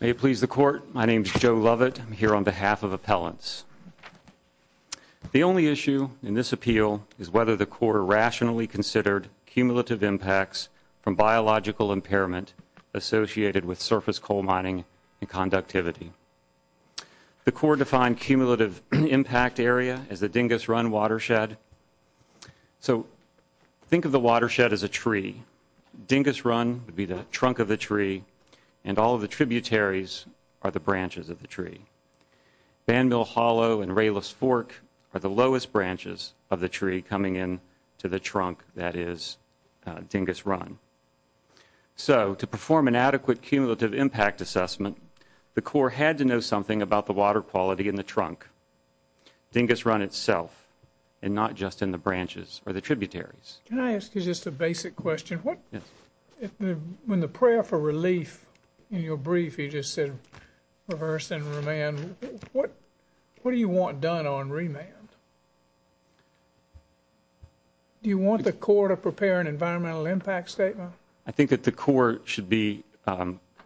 May it please the Court, my name is Joe Lovett, I'm here on behalf of Appellants. The only issue in this appeal is whether the Corps rationally considered cumulative impacts from biological impairment associated with surface coal mining and conductivity. The Corps defined cumulative impact area as the Dingus Run Watershed, so think of the watershed as a tree. Dingus Run would be the trunk of the tree and all of the tributaries are the branches of the tree. Van Mill Hollow and Rayless Fork are the lowest branches of the tree coming in to the trunk that is Dingus Run. So, to perform an adequate cumulative impact assessment, the Corps had to know something about the water quality in the trunk, Dingus Run itself, and not just in the branches or the tributaries. Can I ask you just a basic question? Yes. When the prayer for relief in your brief you just said reverse and remand, what do you want done on remand? Do you want the Corps to prepare an environmental impact statement? I think that the Corps should be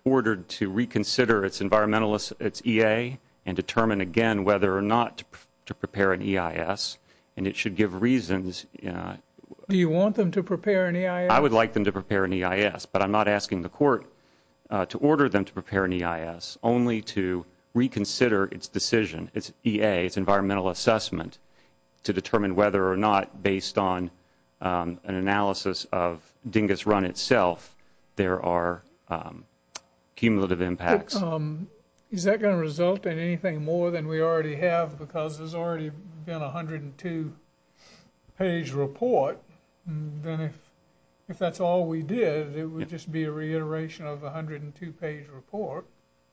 ordered to reconsider its environmental, its EA, and determine again whether or not to prepare an EIS, and it should give reasons. Do you want them to prepare an EIS? I would like them to prepare an EIS, but I'm not asking the Court to order them to prepare an EIS, only to reconsider its decision, its EA, its environmental assessment, to determine whether or not, based on an analysis of Dingus Run itself, there are cumulative impacts. Is that going to result in anything more than we already have because there's already been a 102-page report? Then if that's all we did, it would just be a reiteration of a 102-page report.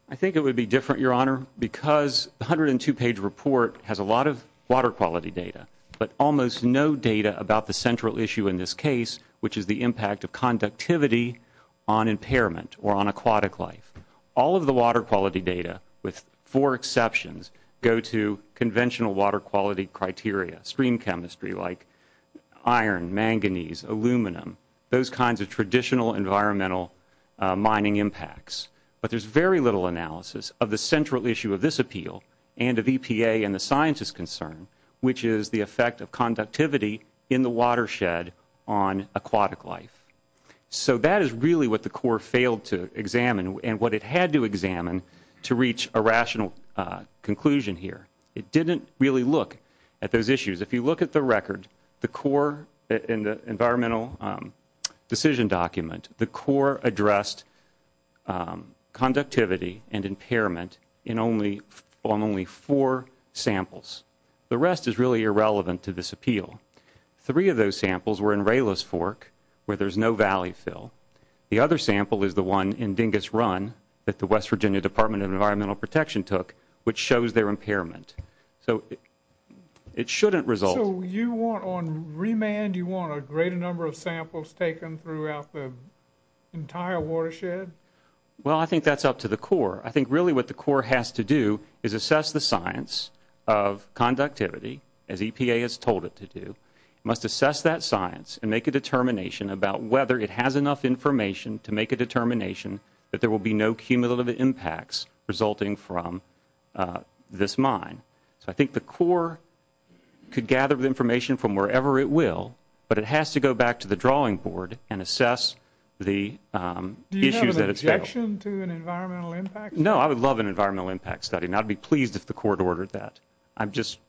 I think it would be different, Your Honor, because the 102-page report has a lot of water quality data, but almost no data about the central issue in this case, which is the impact of conductivity on impairment or on aquatic life. All of the water quality data, with four exceptions, go to conventional water quality criteria, stream chemistry like iron, manganese, aluminum, those kinds of traditional environmental mining impacts. But there's very little analysis of the central issue of this appeal and of EPA and the scientists' concern, which is the effect of conductivity in the watershed on aquatic life. So that is really what the Corps failed to examine and what it had to examine to reach a rational conclusion here. It didn't really look at those issues. If you look at the record, in the environmental decision document, the Corps addressed conductivity and impairment on only four samples. The rest is really irrelevant to this appeal. Three of those samples were in Raylis Fork, where there's no valley fill. The other sample is the one in Dingus Run that the West Virginia Department of Environmental Protection took, which shows their impairment. So it shouldn't result. So you want, on remand, you want a greater number of samples taken throughout the entire watershed? Well, I think that's up to the Corps. I think really what the Corps has to do is assess the science of conductivity, as EPA has told it to do. It must assess that science and make a determination about whether it has enough information to make a determination that there will be no cumulative impacts resulting from this mine. So I think the Corps could gather the information from wherever it will, but it has to go back to the drawing board and assess the issues that it failed. No, I would love an environmental impact study, and I'd be pleased if the Corps had ordered that. I was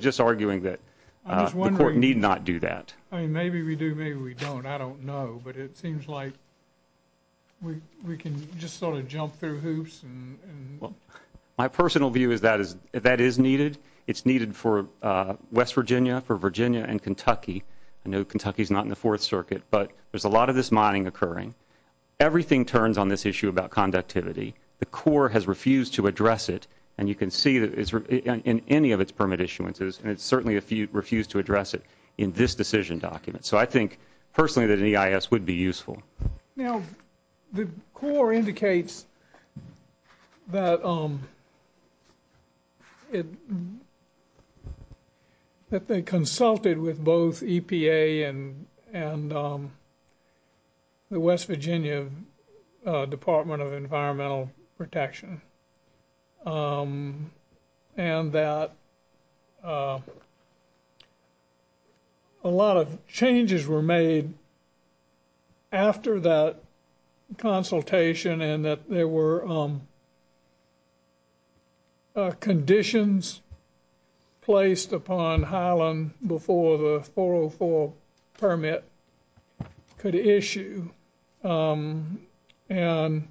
just arguing that the Corps need not do that. I mean, maybe we do, maybe we don't. I don't know, but it seems like we can just sort of jump through hoops. Well, my personal view is that that is needed. It's needed for West Virginia, for Virginia, and Kentucky. I know Kentucky is not in the Fourth Circuit, but there's a lot of this mining occurring. Everything turns on this issue about conductivity. The Corps has refused to address it, and you can see that in any of its permit issuances, and it certainly refused to address it in this decision document. So I think personally that an EIS would be useful. Now, the Corps indicates that they consulted with both EPA and the West Virginia Department of Environmental Protection, and that a lot of changes were made after that consultation, and that there were conditions placed upon Highland before the 404 permit could issue. And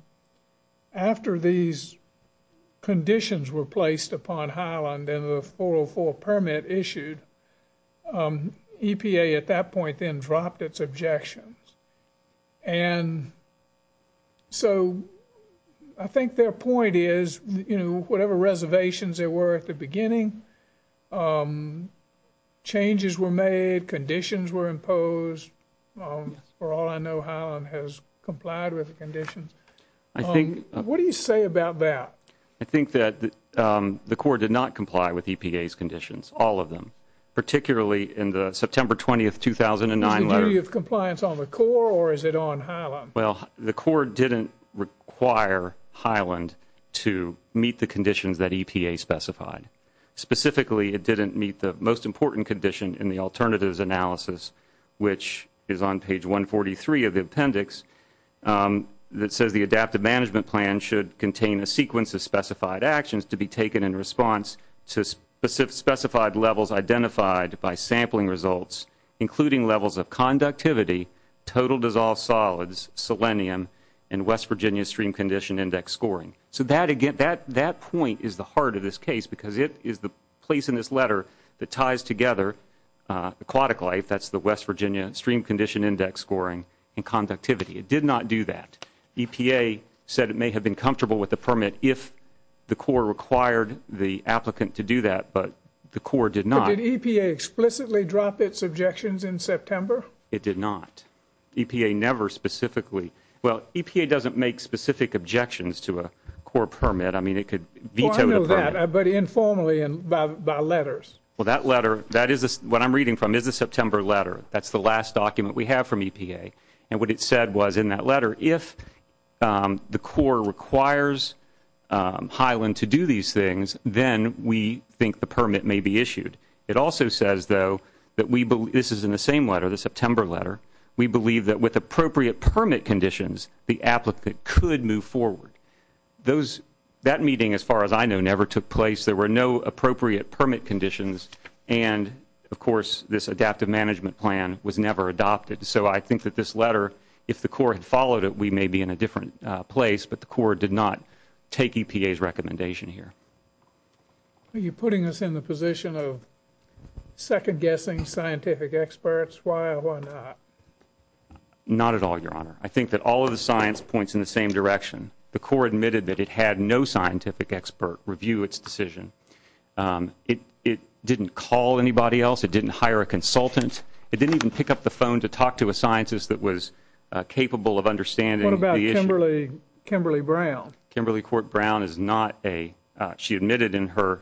after these conditions were placed upon Highland and the 404 permit issued, EPA at that point then dropped its objections. And so I think their point is, you know, whatever reservations there were at the beginning, changes were made, conditions were imposed. For all I know, Highland has complied with the conditions. What do you say about that? I think that the Corps did not comply with EPA's conditions, all of them, particularly in the September 20, 2009 letter. Is the duty of compliance on the Corps, or is it on Highland? Well, the Corps didn't require Highland to meet the conditions that EPA specified. Specifically, it didn't meet the most important condition in the alternatives analysis, which is on page 143 of the appendix, that says the adaptive management plan should contain a sequence of specified actions to be taken in response to specified levels identified by sampling results, including levels of conductivity, total dissolved solids, selenium, and West Virginia stream condition index scoring. So that point is the heart of this case because it is the place in this letter that ties together aquatic life, that's the West Virginia stream condition index scoring, and conductivity. It did not do that. EPA said it may have been comfortable with the permit if the Corps required the applicant to do that, but the Corps did not. So did EPA explicitly drop its objections in September? It did not. EPA never specifically. Well, EPA doesn't make specific objections to a Corps permit. I mean, it could veto the permit. Well, I know that, but informally and by letters. Well, that letter, what I'm reading from is a September letter. That's the last document we have from EPA. And what it said was in that letter, if the Corps requires Highland to do these things, then we think the permit may be issued. It also says, though, that we believe, this is in the same letter, the September letter, we believe that with appropriate permit conditions, the applicant could move forward. That meeting, as far as I know, never took place. There were no appropriate permit conditions. And, of course, this adaptive management plan was never adopted. So I think that this letter, if the Corps had followed it, we may be in a different place, but the Corps did not take EPA's recommendation here. Are you putting us in the position of second-guessing scientific experts? Why or why not? Not at all, Your Honor. I think that all of the science points in the same direction. The Corps admitted that it had no scientific expert review its decision. It didn't call anybody else. It didn't hire a consultant. It didn't even pick up the phone to talk to a scientist that was capable of understanding the issue. What about Kimberly Brown? Kimberly Court Brown is not a she admitted in her,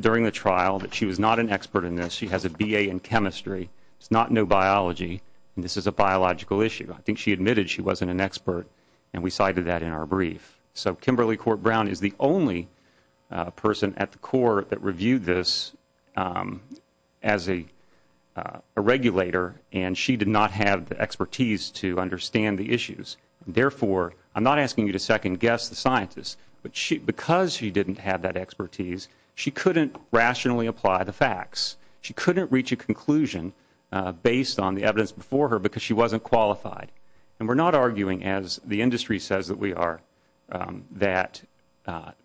during the trial, that she was not an expert in this. She has a B.A. in chemistry. It's not no biology, and this is a biological issue. I think she admitted she wasn't an expert, and we cited that in our brief. So Kimberly Court Brown is the only person at the Corps that reviewed this as a regulator, and she did not have the expertise to understand the issues. Therefore, I'm not asking you to second-guess the scientists, but because she didn't have that expertise, she couldn't rationally apply the facts. She couldn't reach a conclusion based on the evidence before her because she wasn't qualified. And we're not arguing, as the industry says that we are, that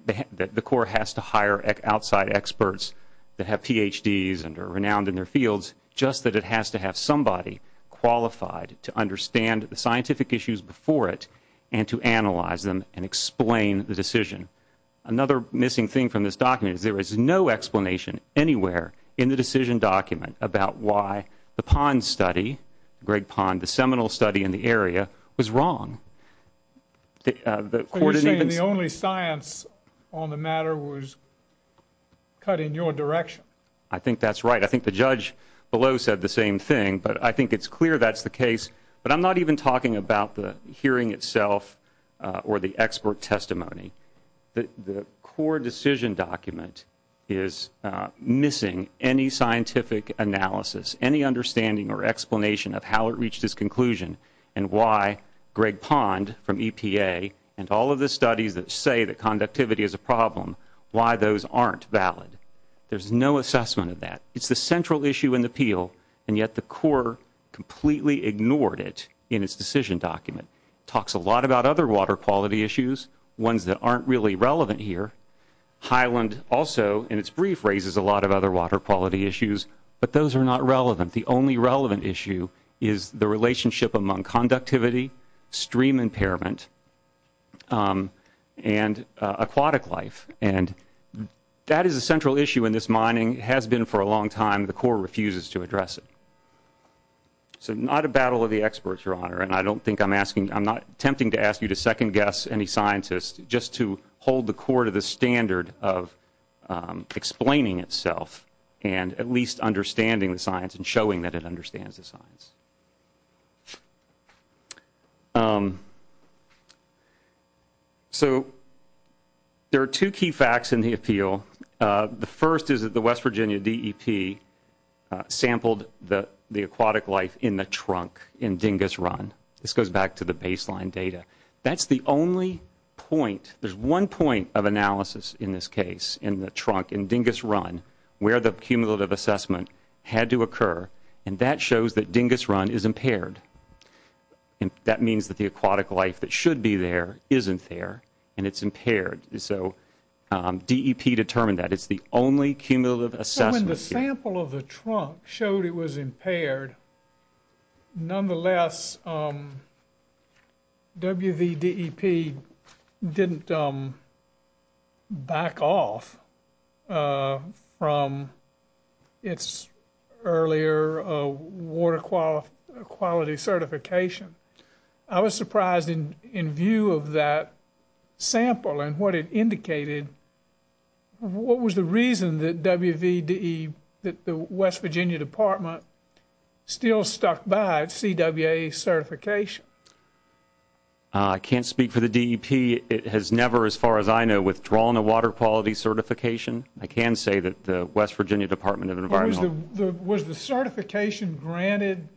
the Corps has to hire outside experts that have Ph.D.s and are renowned in their fields, just that it has to have somebody qualified to understand the scientific issues before it and to analyze them and explain the decision. Another missing thing from this document is there is no explanation anywhere in the decision document about why the PON study, Greg PON, the seminal study in the area, was wrong. So you're saying the only science on the matter was cut in your direction? I think that's right. I think the judge below said the same thing, but I think it's clear that's the case. But I'm not even talking about the hearing itself or the expert testimony. The Corps decision document is missing any scientific analysis, any understanding or explanation of how it reached its conclusion and why Greg PON from EPA and all of the studies that say that conductivity is a problem, why those aren't valid. There's no assessment of that. It's the central issue in the appeal, and yet the Corps completely ignored it in its decision document. It talks a lot about other water quality issues, ones that aren't really relevant here. Highland also in its brief raises a lot of other water quality issues, but those are not relevant. The only relevant issue is the relationship among conductivity, stream impairment, and aquatic life. And that is a central issue in this mining. It has been for a long time. The Corps refuses to address it. So not a battle of the experts, Your Honor, and I don't think I'm asking, I'm not attempting to ask you to second-guess any scientist, just to hold the Corps to the standard of explaining itself and at least understanding the science and showing that it understands the science. The first is that the West Virginia DEP sampled the aquatic life in the trunk in Dingus Run. This goes back to the baseline data. That's the only point, there's one point of analysis in this case in the trunk in Dingus Run where the cumulative assessment had to occur, and that shows that Dingus Run is impaired. That means that the aquatic life that should be there isn't there, and it's impaired. So DEP determined that. It's the only cumulative assessment here. So when the sample of the trunk showed it was impaired, nonetheless WVDEP didn't back off from its earlier water quality certification. I was surprised in view of that sample and what it indicated, what was the reason that the West Virginia Department still stuck by CWA certification? I can't speak for the DEP. It has never, as far as I know, withdrawn a water quality certification. I can say that the West Virginia Department of Environmental... Was the certification granted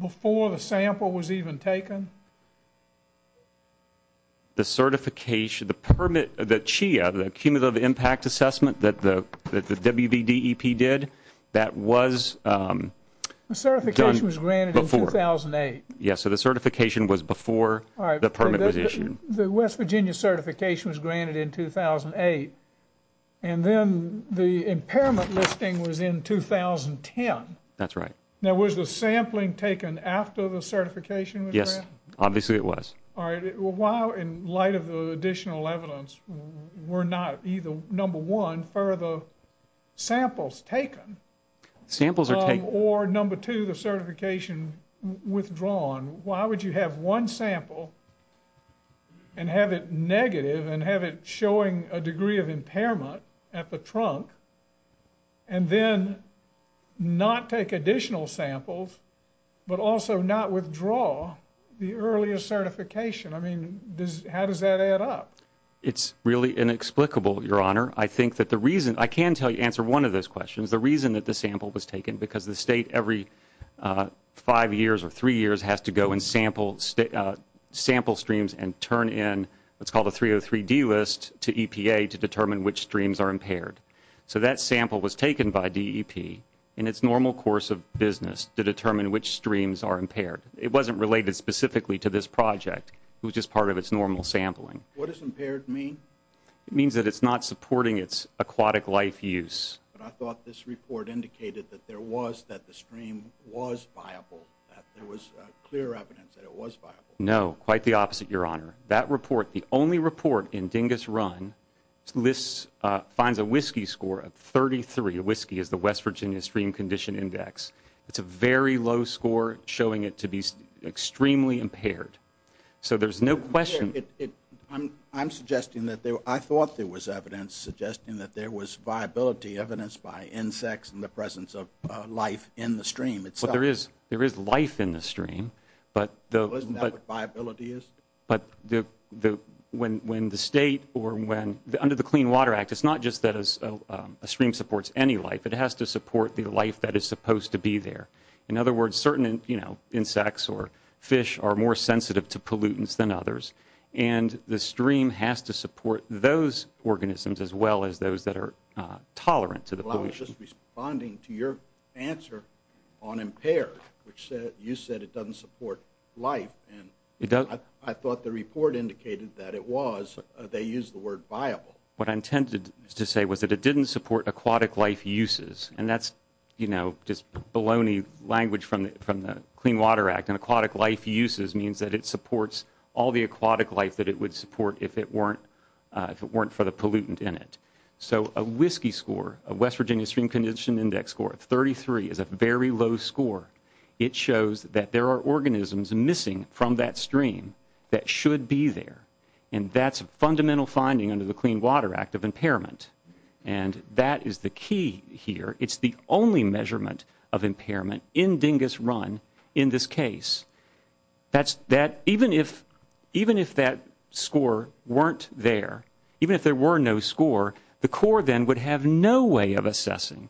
before the sample was even taken? The certification, the permit, the CHIA, the cumulative impact assessment that the WVDEP did, that was done before. The certification was granted in 2008. Yes, so the certification was before the permit was issued. The West Virginia certification was granted in 2008, and then the impairment listing was in 2010. That's right. Now was the sampling taken after the certification was granted? Yes, obviously it was. All right. Well, why, in light of the additional evidence, were not either, number one, further samples taken? Samples are taken. Or, number two, the certification withdrawn. Why would you have one sample and have it negative and have it showing a degree of impairment at the trunk, and then not take additional samples but also not withdraw the earlier certification? I mean, how does that add up? It's really inexplicable, Your Honor. I think that the reason... I can tell you, answer one of those questions, the reason that the sample was taken, because the State, every five years or three years, has to go and sample streams and turn in what's called a 303D list to EPA to determine which streams are impaired. So that sample was taken by DEP in its normal course of business to determine which streams are impaired. It wasn't related specifically to this project. It was just part of its normal sampling. What does impaired mean? It means that it's not supporting its aquatic life use. But I thought this report indicated that there was, that the stream was viable, that there was clear evidence that it was viable. No, quite the opposite, Your Honor. That report, the only report in Dingus Run, lists, finds a whiskey score of 33. Whiskey is the West Virginia Stream Condition Index. It's a very low score, showing it to be extremely impaired. So there's no question... I'm suggesting that there... I thought there was evidence suggesting that there was viability, evidence by insects and the presence of life in the stream itself. Well, there is life in the stream, but... Isn't that what viability is? But when the State or when, under the Clean Water Act, it's not just that a stream supports any life. It has to support the life that is supposed to be there. In other words, certain insects or fish are more sensitive to pollutants than others, and the stream has to support those organisms as well as those that are tolerant to the pollutants. Well, I was just responding to your answer on impaired, which you said it doesn't support life, and I thought the report indicated that it was. They used the word viable. What I intended to say was that it didn't support aquatic life uses, and that's, you know, just baloney language from the Clean Water Act, and aquatic life uses means that it supports all the aquatic life that it would support if it weren't for the pollutant in it. So a WSCCI score, a West Virginia Stream Condition Index score of 33 is a very low score. It shows that there are organisms missing from that stream that should be there, and that's a fundamental finding under the Clean Water Act of impairment, and that is the key here. It's the only measurement of impairment in dingus run in this case. Even if that score weren't there, even if there were no score, the Corps then would have no way of assessing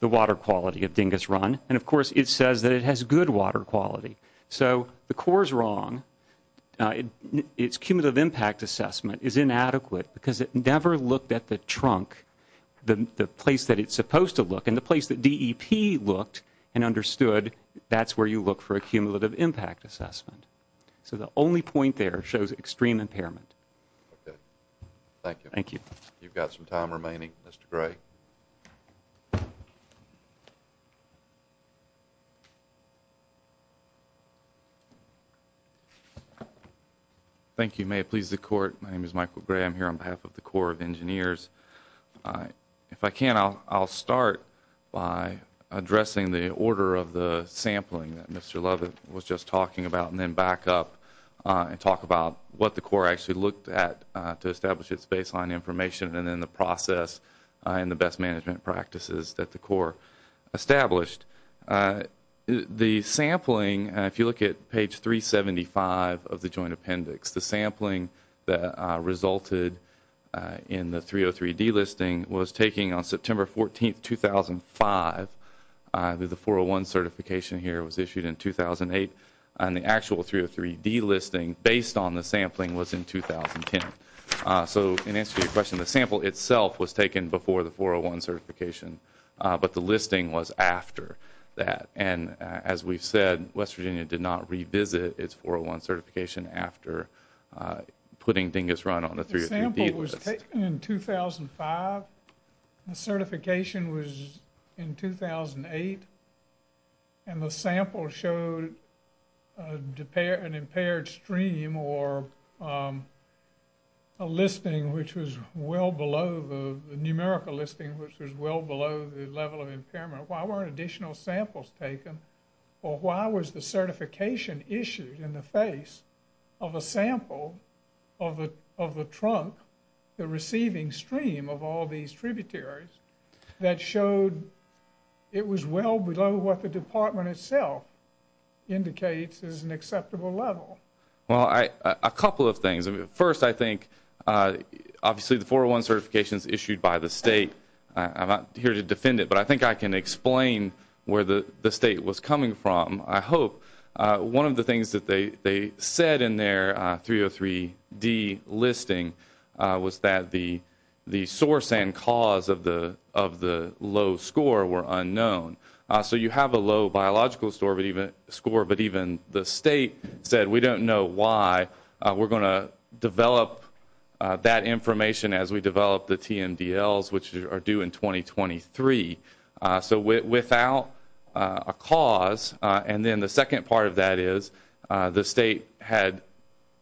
the water quality of dingus run, and, of course, it says that it has good water quality. So the Corps is wrong. Its cumulative impact assessment is inadequate because it never looked at the trunk, the place that it's supposed to look, and the place that DEP looked and understood, that's where you look for a cumulative impact assessment. So the only point there shows extreme impairment. Okay. Thank you. Thank you. You've got some time remaining. Mr. Gray. Thank you. May it please the Court, my name is Michael Gray. I'm here on behalf of the Corps of Engineers. If I can, I'll start by addressing the order of the sampling that Mr. Lovett was just talking about and then back up and talk about what the Corps actually looked at to establish its baseline information and then the process and the best management practices that the Corps established. The sampling, if you look at page 375 of the Joint Appendix, the sampling that resulted in the 303D listing was taken on September 14, 2005. The 401 certification here was issued in 2008, and the actual 303D listing based on the sampling was in 2010. So in answer to your question, the sample itself was taken before the 401 certification, but the listing was after that. And as we've said, West Virginia did not revisit its 401 certification after putting Dingus Run on the 303D list. The sample was taken in 2005. The certification was in 2008. And the sample showed an impaired stream or a listing which was well below the numerical listing, which was well below the level of impairment. Why weren't additional samples taken? Or why was the certification issued in the face of a sample of the trunk, the receiving stream of all these tributaries, that showed it was well below what the department itself indicates is an acceptable level? Well, a couple of things. First, I think obviously the 401 certification is issued by the state. I'm not here to defend it, but I think I can explain where the state was coming from. I hope. One of the things that they said in their 303D listing was that the source and cause of the low score were unknown. So you have a low biological score, but even the state said we don't know why. We're going to develop that information as we develop the TMDLs, which are due in 2023. So without a cause, and then the second part of that is the state had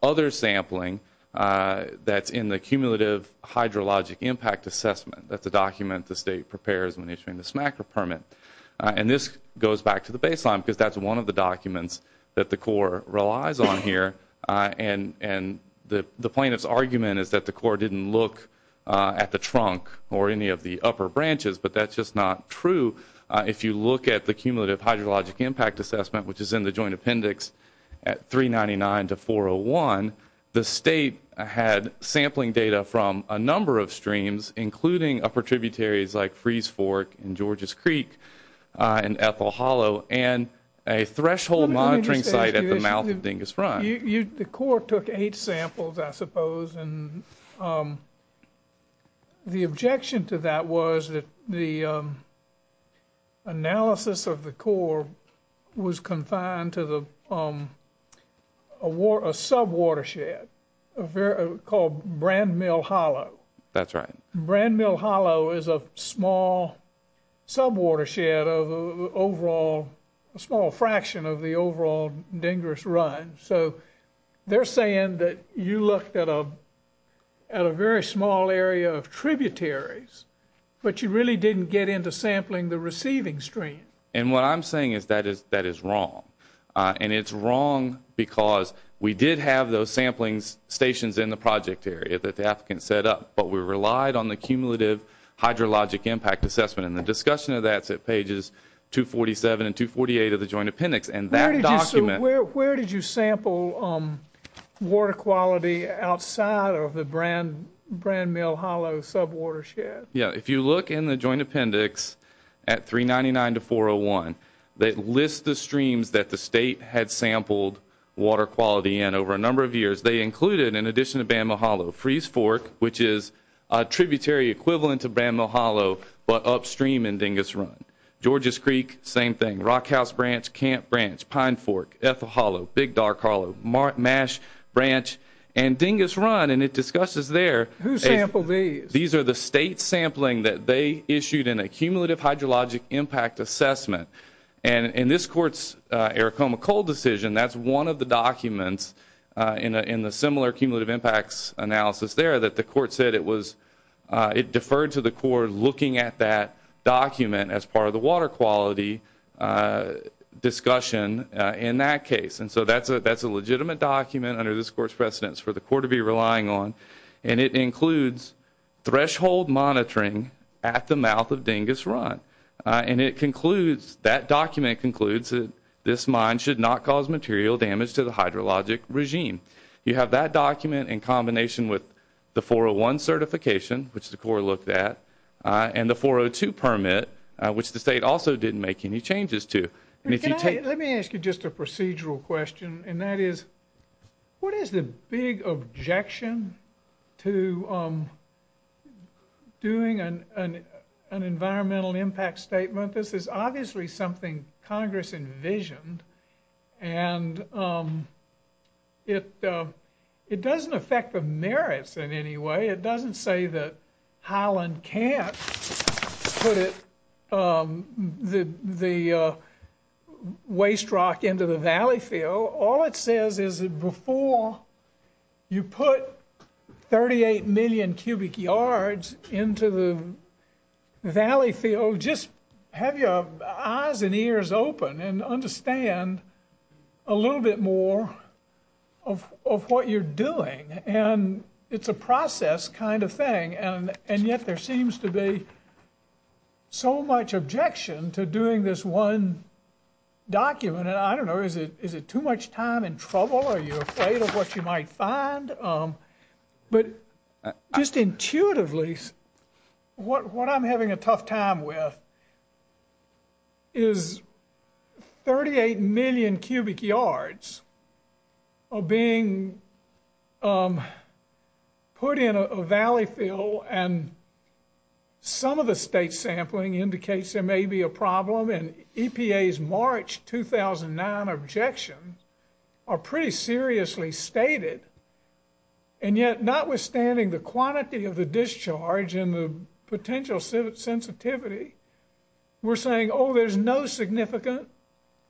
other sampling that's in the cumulative hydrologic impact assessment. That's a document the state prepares when issuing this macro permit. And this goes back to the baseline because that's one of the documents that the Corps relies on here. And the plaintiff's argument is that the Corps didn't look at the trunk or any of the upper branches, but that's just not true. If you look at the cumulative hydrologic impact assessment, which is in the joint appendix at 399 to 401, the state had sampling data from a number of streams, including upper tributaries like Freeze Fork and George's Creek and Ethel Hollow, and a threshold monitoring site at the mouth of Dingus Front. The Corps took eight samples, I suppose, and the objection to that was that the analysis of the Corps was confined to a sub-watershed called Brand Mill Hollow. That's right. Brand Mill Hollow is a small sub-watershed, a small fraction of the overall Dingus Run. So they're saying that you looked at a very small area of tributaries, but you really didn't get into sampling the receiving stream. And what I'm saying is that is wrong. And it's wrong because we did have those sampling stations in the project area that the applicant set up, but we relied on the cumulative hydrologic impact assessment. And the discussion of that is at pages 247 and 248 of the joint appendix. Where did you sample water quality outside of the Brand Mill Hollow sub-watershed? If you look in the joint appendix at 399 to 401, they list the streams that the state had sampled water quality in over a number of years. They included, in addition to Brand Mill Hollow, Freeze Fork, which is a tributary equivalent to Brand Mill Hollow, but upstream in Dingus Run. Georges Creek, same thing. Rockhouse Branch, Camp Branch, Pine Fork, Ethel Hollow, Big Dark Hollow, Mash Branch, and Dingus Run. And it discusses there. Who sampled these? These are the state sampling that they issued in a cumulative hydrologic impact assessment. And in this court's Arachoma Coal decision, that's one of the documents in the similar cumulative impacts analysis there that the court said it deferred to the court looking at that document as part of the water quality discussion in that case. And so that's a legitimate document under this court's precedence for the court to be relying on. And it includes threshold monitoring at the mouth of Dingus Run. And it concludes, that document concludes, that this mine should not cause material damage to the hydrologic regime. You have that document in combination with the 401 certification, which the court looked at, and the 402 permit, which the state also didn't make any changes to. Let me ask you just a procedural question, and that is, what is the big objection to doing an environmental impact statement? This is obviously something Congress envisioned. And it doesn't affect the merits in any way. It doesn't say that Highland can't put the waste rock into the valley field. So all it says is that before you put 38 million cubic yards into the valley field, just have your eyes and ears open and understand a little bit more of what you're doing. And it's a process kind of thing. And yet there seems to be so much objection to doing this one document. And I don't know, is it too much time and trouble? Are you afraid of what you might find? But just intuitively, what I'm having a tough time with is 38 million cubic yards are being put in a valley field, and some of the state sampling indicates there may be a problem. And EPA's March 2009 objections are pretty seriously stated. And yet, notwithstanding the quantity of the discharge and the potential sensitivity, we're saying, oh, there's no significant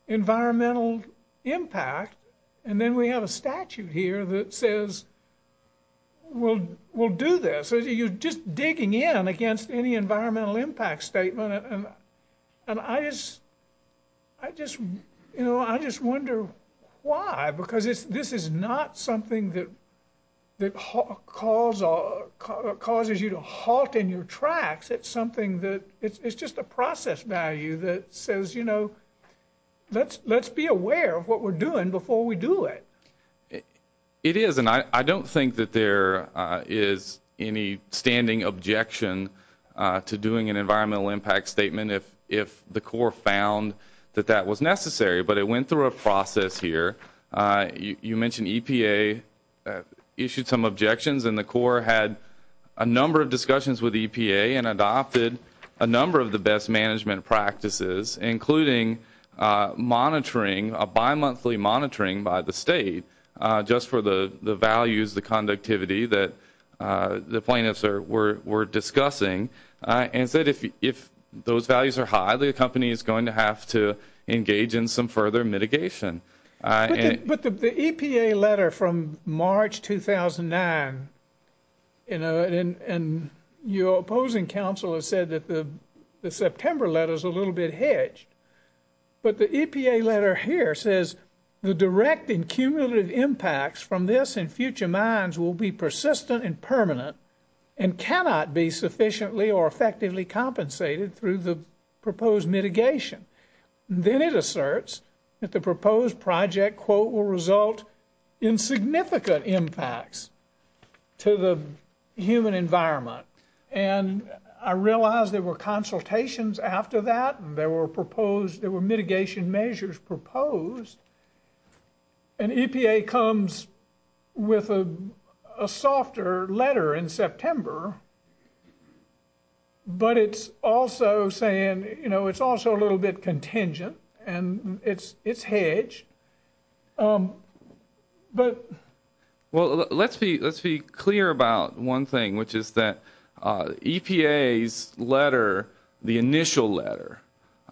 environmental impact. And then we have a statute here that says we'll do this. So you're just digging in against any environmental impact statement. And I just wonder why, because this is not something that causes you to halt in your tracks. It's just a process value that says, you know, let's be aware of what we're doing before we do it. It is. And I don't think that there is any standing objection to doing an environmental impact statement if the Corps found that that was necessary. But it went through a process here. You mentioned EPA issued some objections, and the Corps had a number of discussions with EPA and adopted a number of the best management practices, including monitoring, a bimonthly monitoring by the state, just for the values, the conductivity that the plaintiffs were discussing, and said if those values are high, the company is going to have to engage in some further mitigation. But the EPA letter from March 2009, and your opposing counsel has said that the September letter is a little bit hedged. But the EPA letter here says the direct and cumulative impacts from this and future mines will be persistent and permanent and cannot be sufficiently or effectively compensated through the proposed mitigation. Then it asserts that the proposed project, quote, will result in significant impacts to the human environment. And I realize there were consultations after that, and there were mitigation measures proposed. But it's also saying, you know, it's also a little bit contingent, and it's hedged. But... Well, let's be clear about one thing, which is that EPA's letter, the initial letter,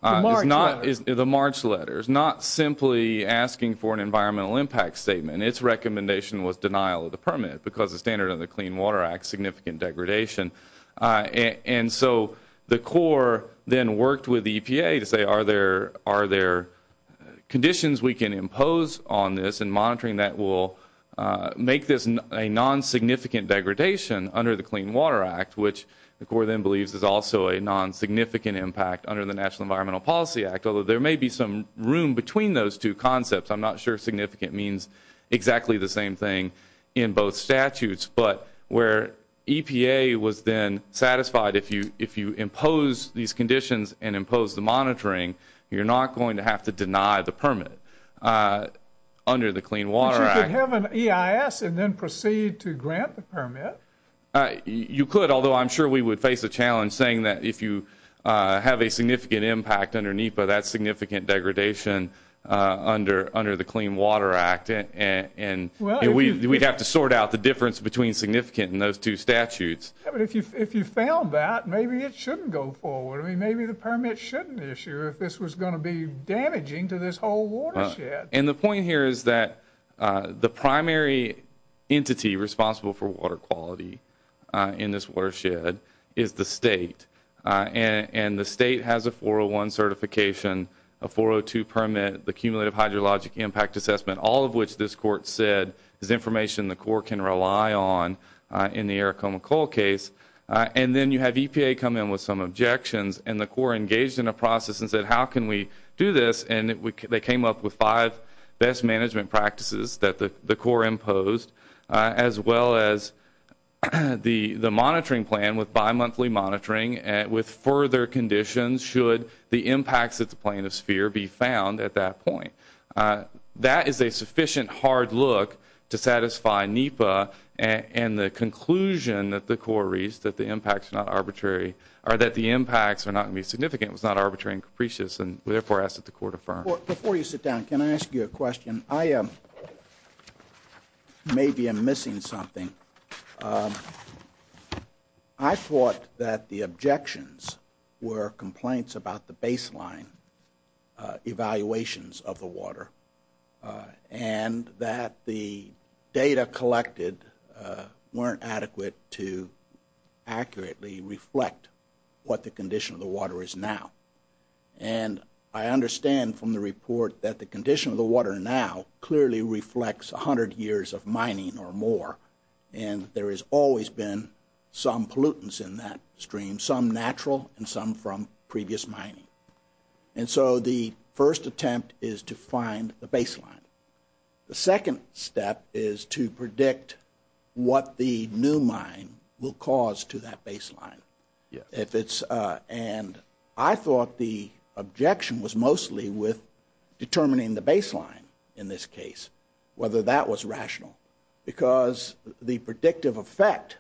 the March letter, is not simply asking for an environmental impact statement. Its recommendation was denial of the permit because the standard of the Clean Water Act, significant degradation. And so the Corps then worked with the EPA to say, are there conditions we can impose on this and monitoring that will make this a non-significant degradation under the Clean Water Act, which the Corps then believes is also a non-significant impact under the National Environmental Policy Act, although there may be some room between those two concepts. I'm not sure significant means exactly the same thing in both statutes. But where EPA was then satisfied, if you impose these conditions and impose the monitoring, you're not going to have to deny the permit under the Clean Water Act. But you could have an EIS and then proceed to grant the permit. You could, although I'm sure we would face a challenge saying that if you have a significant impact underneath, but that's significant degradation under the Clean Water Act. And we'd have to sort out the difference between significant in those two statutes. But if you found that, maybe it shouldn't go forward. Maybe the permit shouldn't issue if this was going to be damaging to this whole watershed. And the point here is that the primary entity responsible for water quality in this watershed is the state. And the state has a 401 certification, a 402 permit, the Cumulative Hydrologic Impact Assessment, all of which this Court said is information the Corps can rely on in the Aracoma Coal case. And then you have EPA come in with some objections, and the Corps engaged in a process and said, how can we do this? And they came up with five best management practices that the Corps imposed, as well as the monitoring plan with bimonthly monitoring with further conditions should the impacts at the Plain of Sphere be found at that point. That is a sufficient hard look to satisfy NEPA and the conclusion that the Corps reached, that the impacts are not arbitrary, or that the impacts are not going to be significant, was not arbitrary and capricious, and we therefore ask that the Court affirm. Before you sit down, can I ask you a question? I maybe am missing something. I thought that the objections were complaints about the baseline evaluations of the water and that the data collected weren't adequate to accurately reflect what the condition of the water is now. And I understand from the report that the condition of the water now clearly reflects 100 years of mining or more, and there has always been some pollutants in that stream, some natural and some from previous mining. And so the first attempt is to find the baseline. The second step is to predict what the new mine will cause to that baseline. And I thought the objection was mostly with determining the baseline in this case, whether that was rational, because the predictive effect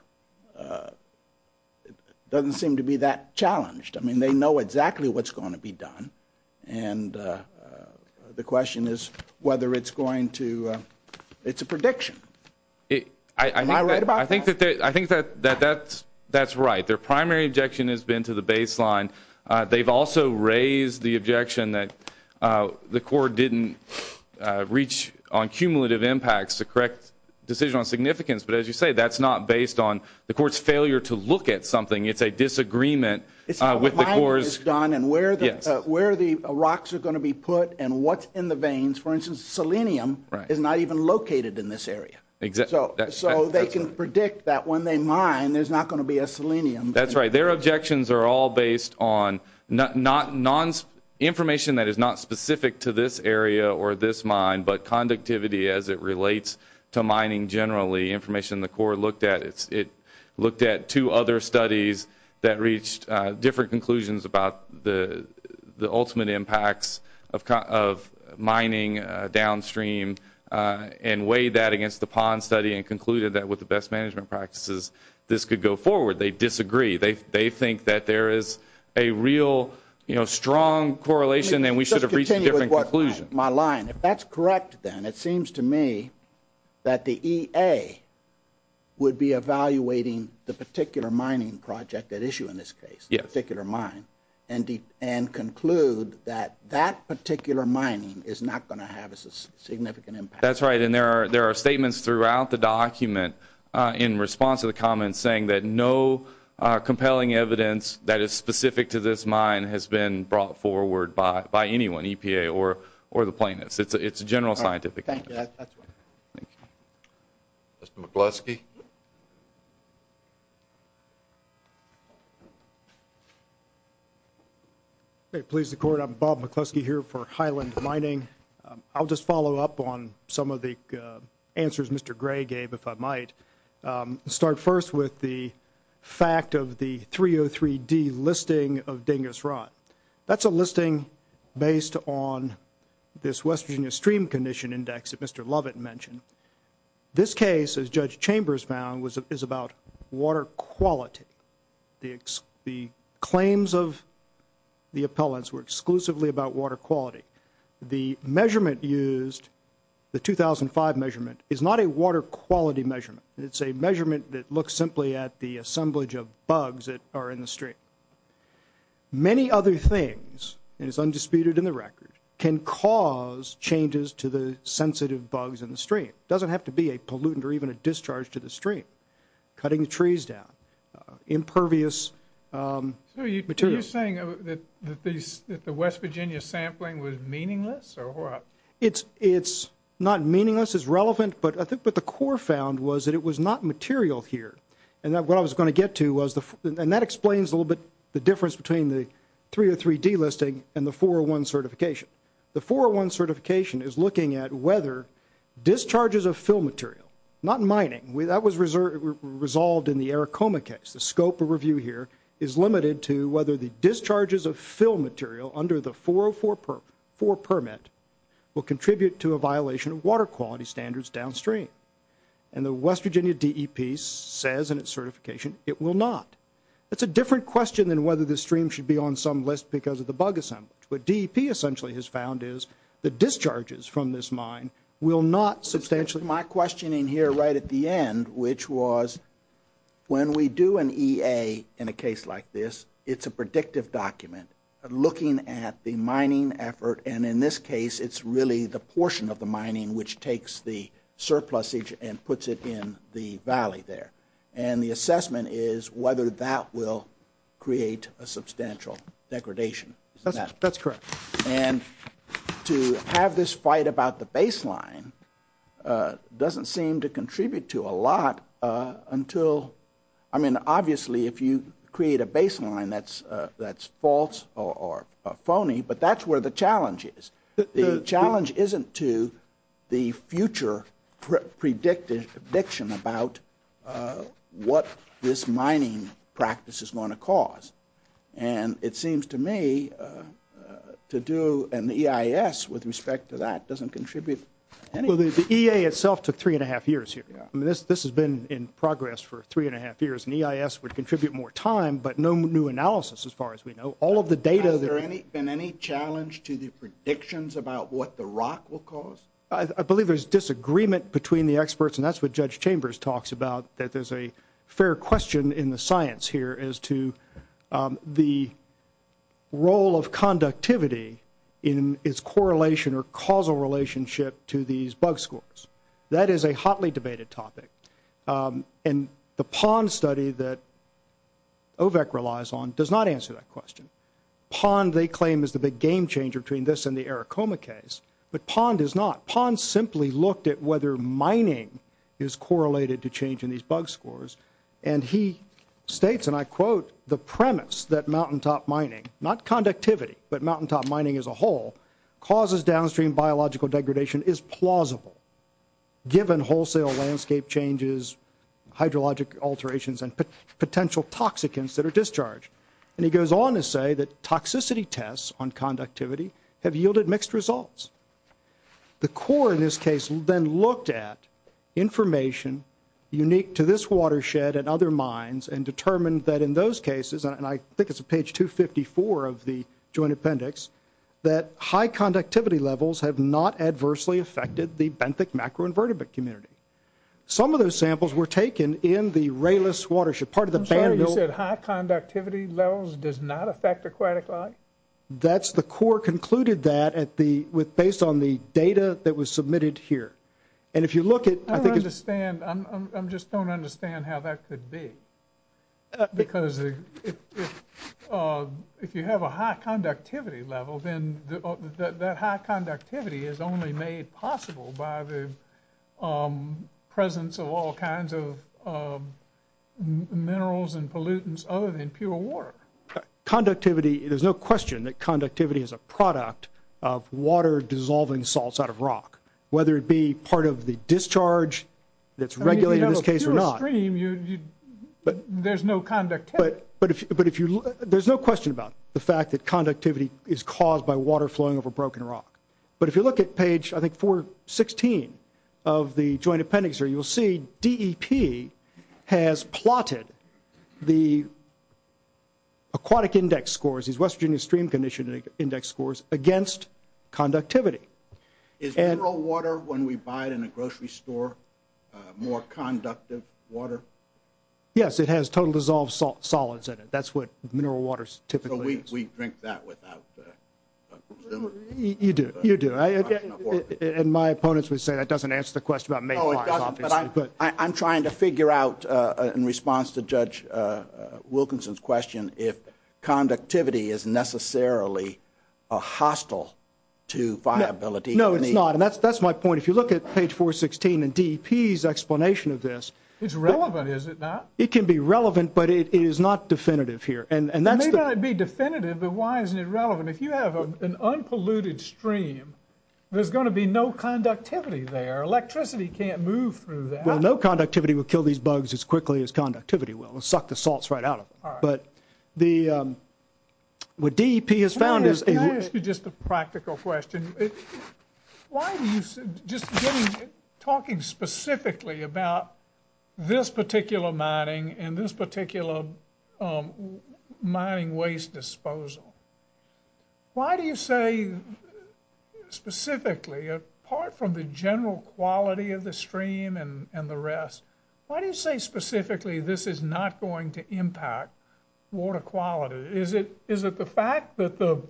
doesn't seem to be that challenged. I mean, they know exactly what's going to be done, and the question is whether it's a prediction. Am I right about that? I think that that's right. Their primary objection has been to the baseline. They've also raised the objection that the Court didn't reach on cumulative impacts, the correct decision on significance. But as you say, that's not based on the Court's failure to look at something. It's a disagreement with the Court's – It's how the mining is done and where the rocks are going to be put and what's in the veins. For instance, selenium is not even located in this area. So they can predict that when they mine, there's not going to be a selenium. That's right. Their objections are all based on information that is not specific to this area or this mine, but conductivity as it relates to mining generally, information the Court looked at. It looked at two other studies that reached different conclusions about the ultimate impacts of mining downstream and weighed that against the PON study and concluded that with the best management practices, this could go forward. They disagree. They think that there is a real strong correlation and we should have reached a different conclusion. Let me just continue with my line. If that's correct then, it seems to me that the EA would be evaluating the particular mining project at issue in this case, the particular mine, and conclude that that particular mining is not going to have a significant impact. That's right, and there are statements throughout the document in response to the comments saying that no compelling evidence that is specific to this mine has been brought forward by anyone, EPA or the plaintiffs. It's a general scientific opinion. Thank you. Mr. McCluskey. Please, the Court. I'm Bob McCluskey here for Highland Mining. I'll just follow up on some of the answers Mr. Gray gave, if I might. I'll start first with the fact of the 303D listing of Dingus Rot. That's a listing based on this West Virginia Stream Condition Index that Mr. Lovett mentioned. This case, as Judge Chambers found, is about water quality. The claims of the appellants were exclusively about water quality. The measurement used, the 2005 measurement, is not a water quality measurement. It's a measurement that looks simply at the assemblage of bugs that are in the stream. Many other things, and it's undisputed in the record, can cause changes to the sensitive bugs in the stream. It doesn't have to be a pollutant or even a discharge to the stream. Cutting the trees down, impervious material. So are you saying that the West Virginia sampling was meaningless or what? It's not meaningless. It's relevant, but I think what the Court found was that it was not material here. And what I was going to get to was, and that explains a little bit the difference between the 303D listing and the 401 certification. The 401 certification is looking at whether discharges of fill material, not mining. That was resolved in the Aracoma case. The scope of review here is limited to whether the discharges of fill material under the 404 permit will contribute to a violation of water quality standards downstream. And the West Virginia DEP says in its certification it will not. That's a different question than whether the stream should be on some list because of the bug assemblage. What DEP essentially has found is the discharges from this mine will not substantially So my questioning here right at the end, which was when we do an EA in a case like this, it's a predictive document looking at the mining effort. And in this case, it's really the portion of the mining which takes the surplusage and puts it in the valley there. And the assessment is whether that will create a substantial degradation. That's correct. And to have this fight about the baseline doesn't seem to contribute to a lot until, I mean, obviously, if you create a baseline that's false or phony, but that's where the challenge is. The challenge isn't to the future prediction about what this mining practice is going to cause. And it seems to me to do an EIS with respect to that doesn't contribute anything. Well, the EA itself took three and a half years here. I mean, this has been in progress for three and a half years. An EIS would contribute more time, but no new analysis as far as we know. All of the data that Has there been any challenge to the predictions about what the rock will cause? I believe there's disagreement between the experts, and that's what Judge Chambers talks about, that there's a fair question in the science here as to the role of conductivity in its correlation or causal relationship to these bug scores. That is a hotly debated topic. And the PON study that OVEC relies on does not answer that question. PON, they claim, is the big game changer between this and the Aricoma case, but PON does not. at whether mining is correlated to change in these bug scores. And he states, and I quote, The premise that mountaintop mining, not conductivity, but mountaintop mining as a whole, causes downstream biological degradation is plausible, given wholesale landscape changes, hydrologic alterations, and potential toxicants that are discharged. And he goes on to say that toxicity tests on conductivity have yielded mixed results. The core in this case then looked at information unique to this watershed and other mines and determined that in those cases, and I think it's on page 254 of the joint appendix, that high conductivity levels have not adversely affected the benthic macroinvertebrate community. Some of those samples were taken in the Rayliss watershed. I'm sorry, you said high conductivity levels does not affect aquatic life? That's the core concluded that based on the data that was submitted here. And if you look at, I think, I don't understand, I just don't understand how that could be. Because if you have a high conductivity level, then that high conductivity is only made possible by the presence of all kinds of minerals and pollutants other than pure water. Conductivity, there's no question that conductivity is a product of water dissolving salts out of rock, whether it be part of the discharge that's regulated in this case or not. There's no conductivity. There's no question about the fact that conductivity is caused by water flowing over broken rock. But if you look at page, I think, 416 of the joint appendix here, you'll see DEP has plotted the aquatic index scores, these West Virginia Stream Condition Index scores against conductivity. Is mineral water, when we buy it in a grocery store, more conductive water? Yes, it has total dissolved solids in it. That's what mineral water typically is. So we drink that without. You do, you do. And my opponents would say that doesn't answer the question about main lines, obviously. I'm trying to figure out, in response to Judge Wilkinson's question, if conductivity is necessarily hostile to viability. No, it's not. And that's my point. If you look at page 416 in DEP's explanation of this. It's relevant, is it not? It can be relevant, but it is not definitive here. It may not be definitive, but why isn't it relevant? If you have an unpolluted stream, there's going to be no conductivity there. Electricity can't move through that. Well, no conductivity will kill these bugs as quickly as conductivity will. It'll suck the salts right out of them. All right. But what DEP has found is that you – May I ask you just a practical question? Why do you – just talking specifically about this particular mining and this particular mining waste disposal. Why do you say specifically, apart from the general quality of the stream and the rest, why do you say specifically this is not going to impact water quality? Is it the fact that the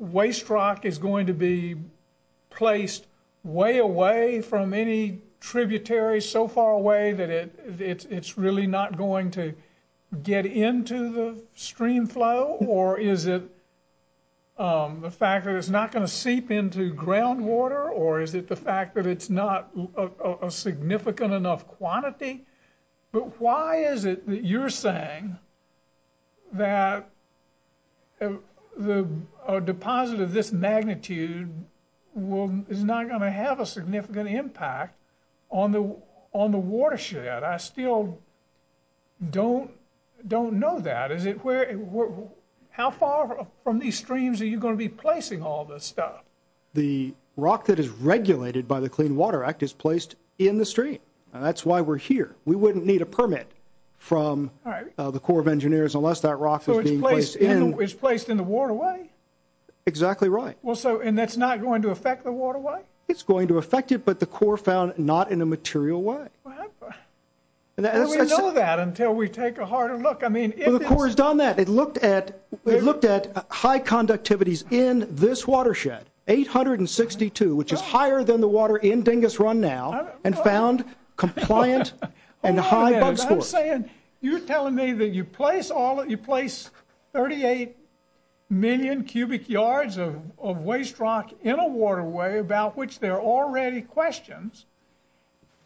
waste rock is going to be placed way away from any tributaries, so far away that it's really not going to get into the stream flow? Or is it the fact that it's not going to seep into groundwater? Or is it the fact that it's not a significant enough quantity? But why is it that you're saying that a deposit of this magnitude is not going to have a significant impact on the watershed? I still don't know that. How far from these streams are you going to be placing all this stuff? The rock that is regulated by the Clean Water Act is placed in the stream. Right. And that's why we're here. We wouldn't need a permit from the Corps of Engineers unless that rock is being placed in – So it's placed in the waterway? Exactly right. And that's not going to affect the waterway? It's going to affect it, but the Corps found not in a material way. We'll know that until we take a harder look. The Corps has done that. It looked at high conductivities in this watershed, 862, which is higher than the water in Dingus Run now, and found compliant and high bugsports. Hold on a minute. I'm saying you're telling me that you place 38 million cubic yards of waste rock in a waterway about which there are already questions,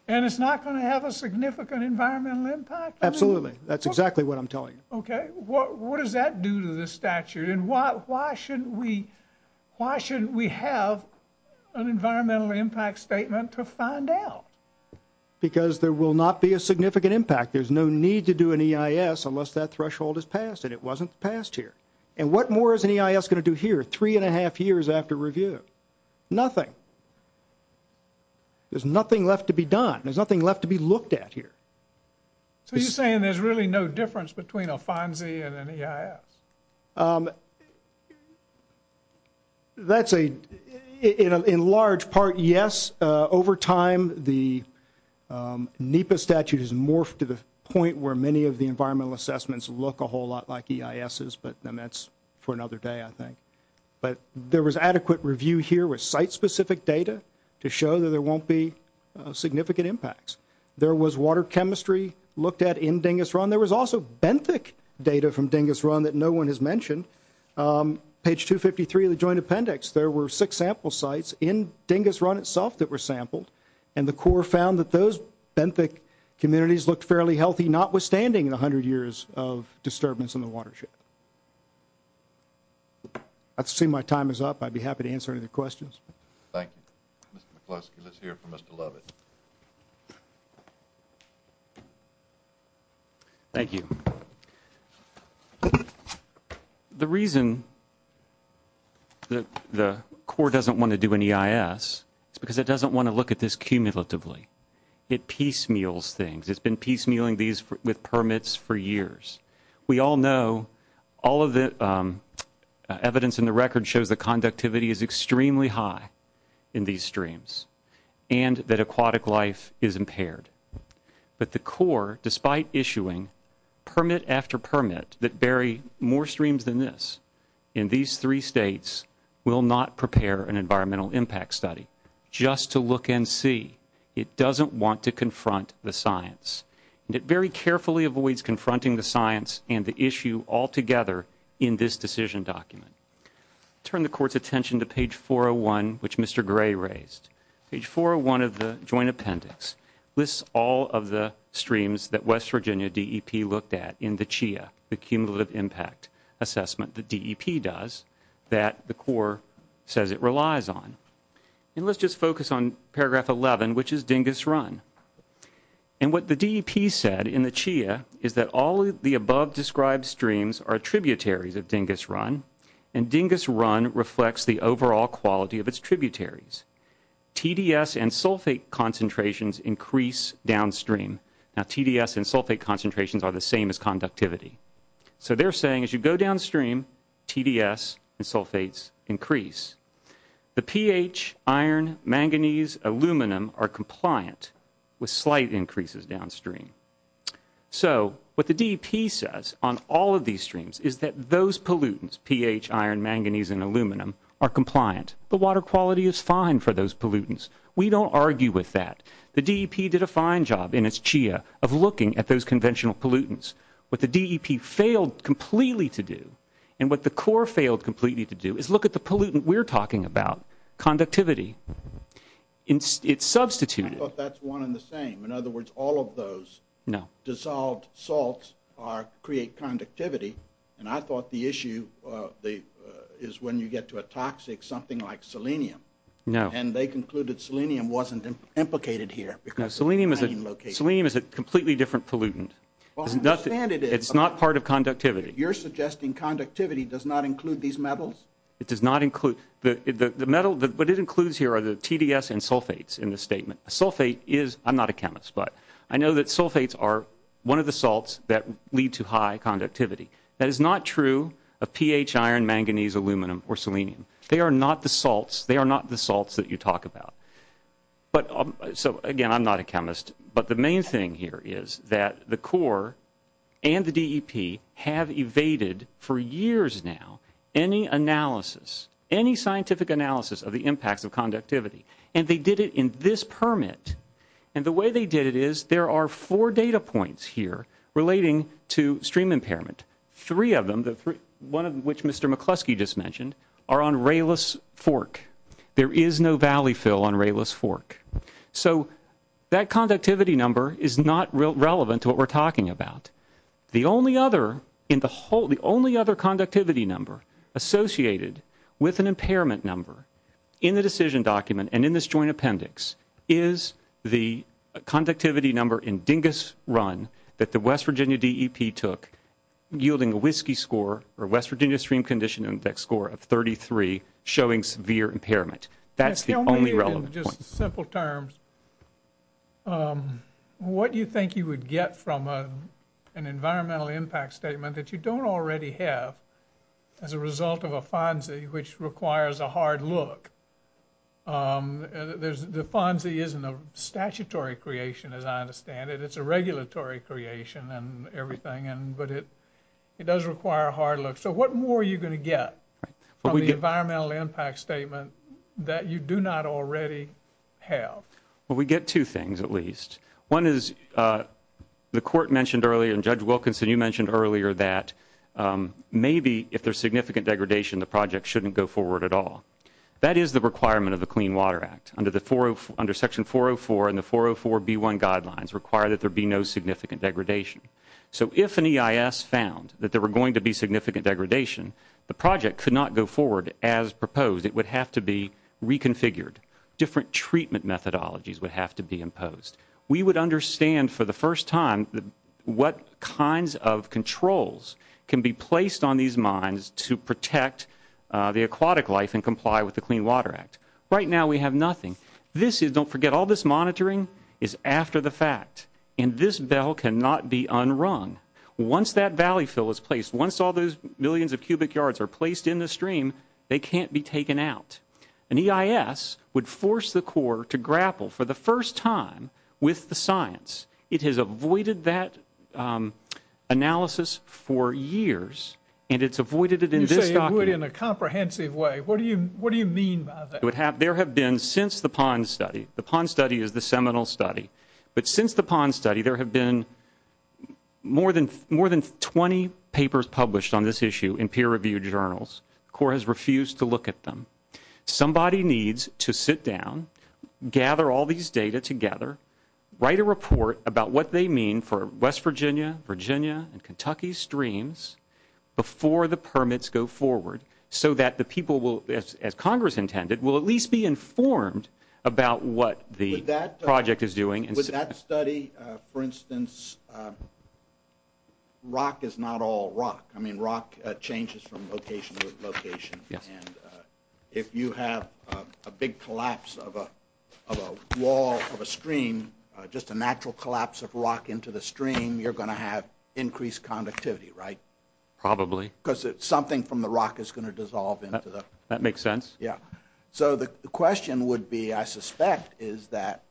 and it's not going to have a significant environmental impact? Absolutely. That's exactly what I'm telling you. Okay. What does that do to the statute, and why shouldn't we have an environmental impact statement to find out? Because there will not be a significant impact. There's no need to do an EIS unless that threshold is passed, and it wasn't passed here. And what more is an EIS going to do here three and a half years after review? Nothing. There's nothing left to be done. There's nothing left to be looked at here. So you're saying there's really no difference between a FONSI and an EIS? That's a, in large part, yes. Over time, the NEPA statute has morphed to the point where many of the environmental assessments look a whole lot like EISs, but then that's for another day, I think. But there was adequate review here with site-specific data to show that there won't be significant impacts. There was water chemistry looked at in Dingis Run. There was also benthic data from Dingis Run that no one has mentioned. Page 253 of the Joint Appendix, there were six sample sites in Dingis Run itself that were sampled, and the Corps found that those benthic communities looked fairly healthy, notwithstanding 100 years of disturbance in the watershed. I see my time is up. I'd be happy to answer any questions. Thank you. Mr. McCloskey, let's hear from Mr. Lovett. Thank you. The reason that the Corps doesn't want to do an EIS is because it doesn't want to look at this cumulatively. It piecemeals things. It's been piecemealing these with permits for years. We all know all of the evidence in the record shows that conductivity is extremely high in these streams and that aquatic life is impaired. But the Corps, despite issuing permit after permit that bury more streams than this in these three states, will not prepare an environmental impact study just to look and see. It doesn't want to confront the science. And it very carefully avoids confronting the science and the issue altogether in this decision document. Turn the Court's attention to page 401, which Mr. Gray raised. Page 401 of the joint appendix lists all of the streams that West Virginia DEP looked at in the CHIA, the cumulative impact assessment that DEP does that the Corps says it relies on. And let's just focus on paragraph 11, which is Dingis Run. And what the DEP said in the CHIA is that all of the above described streams are tributaries of Dingis Run, and Dingis Run reflects the overall quality of its tributaries. TDS and sulfate concentrations increase downstream. Now, TDS and sulfate concentrations are the same as conductivity. So they're saying as you go downstream, TDS and sulfates increase. The pH, iron, manganese, aluminum are compliant with slight increases downstream. So what the DEP says on all of these streams is that those pollutants, pH, iron, manganese, and aluminum, are compliant. The water quality is fine for those pollutants. We don't argue with that. The DEP did a fine job in its CHIA of looking at those conventional pollutants. What the DEP failed completely to do, and what the Corps failed completely to do, is look at the pollutant we're talking about, conductivity. It's substituted. I thought that's one and the same. In other words, all of those dissolved salts create conductivity. And I thought the issue is when you get to a toxic, something like selenium. No. And they concluded selenium wasn't implicated here. No, selenium is a completely different pollutant. Well, I understand it is. It's not part of conductivity. You're suggesting conductivity does not include these metals? It does not include. The metal, what it includes here are the TDS and sulfates in the statement. A sulfate is, I'm not a chemist, but I know that sulfates are one of the salts that lead to high conductivity. That is not true of pH, iron, manganese, aluminum, or selenium. They are not the salts. They are not the salts that you talk about. So, again, I'm not a chemist. But the main thing here is that the Corps and the DEP have evaded for years now any analysis, any scientific analysis of the impacts of conductivity. And they did it in this permit. And the way they did it is there are four data points here relating to stream impairment. Three of them, one of which Mr. McCluskey just mentioned, are on Rayless Fork. There is no valley fill on Rayless Fork. So that conductivity number is not relevant to what we're talking about. The only other conductivity number associated with an impairment number in the decision document and in this joint appendix is the conductivity number in Dingus Run that the West Virginia DEP took, yielding a whiskey score or West Virginia Stream Condition Index score of 33, showing severe impairment. That's the only relevant point. Just in simple terms, what do you think you would get from an environmental impact statement that you don't already have as a result of a FONSI, which requires a hard look? The FONSI isn't a statutory creation, as I understand it. It's a regulatory creation and everything, but it does require a hard look. So what more are you going to get from the environmental impact statement that you do not already have? Well, we get two things at least. One is the court mentioned earlier, and Judge Wilkinson, you mentioned earlier, that maybe if there's significant degradation, the project shouldn't go forward at all. That is the requirement of the Clean Water Act. Under Section 404 and the 404B1 guidelines require that there be no significant degradation. So if an EIS found that there were going to be significant degradation, the project could not go forward as proposed. It would have to be reconfigured. Different treatment methodologies would have to be imposed. We would understand for the first time what kinds of controls can be placed on these mines to protect the aquatic life and comply with the Clean Water Act. Right now we have nothing. Don't forget, all this monitoring is after the fact, and this bell cannot be unrung. Once that valley fill is placed, once all those millions of cubic yards are placed in the stream, they can't be taken out. An EIS would force the court to grapple for the first time with the science. It has avoided that analysis for years, and it's avoided it in this document. You say it would in a comprehensive way. What do you mean by that? There have been since the PON study, the PON study is the seminal study, but since the PON study there have been more than 20 papers published on this issue in peer-reviewed journals. The court has refused to look at them. Somebody needs to sit down, gather all these data together, write a report about what they mean for West Virginia, Virginia, and Kentucky streams before the permits go forward so that the people will, as Congress intended, will at least be informed about what the project is doing. With that study, for instance, rock is not all rock. I mean, rock changes from location to location. And if you have a big collapse of a wall, of a stream, just a natural collapse of rock into the stream, you're going to have increased conductivity, right? Probably. Because something from the rock is going to dissolve into the... That makes sense. Yeah. So the question would be, I suspect, is that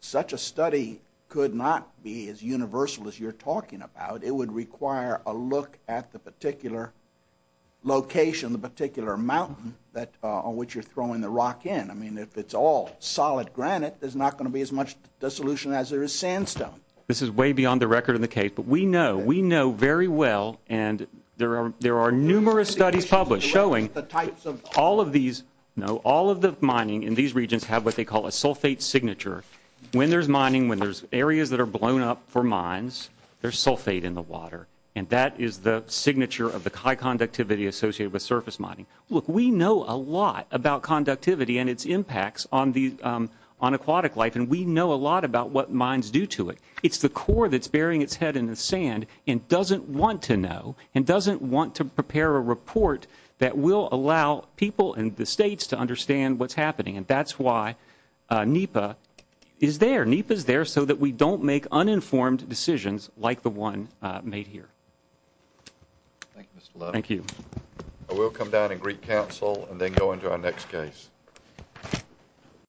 such a study could not be as universal as you're talking about. It would require a look at the particular location, the particular mountain on which you're throwing the rock in. I mean, if it's all solid granite, there's not going to be as much dissolution as there is sandstone. This is way beyond the record of the case, but we know, we know very well, and there are numerous studies published showing all of these, all of the mining in these regions have what they call a sulfate signature. When there's mining, when there's areas that are blown up for mines, there's sulfate in the water, and that is the signature of the high conductivity associated with surface mining. Look, we know a lot about conductivity and its impacts on aquatic life, and we know a lot about what mines do to it. It's the core that's burying its head in the sand and doesn't want to know and doesn't want to prepare a report that will allow people in the states to understand what's happening, and that's why NEPA is there. NEPA is there so that we don't make uninformed decisions like the one made here. Thank you, Mr. Love. Thank you. I will come down and greet counsel and then go into our next case.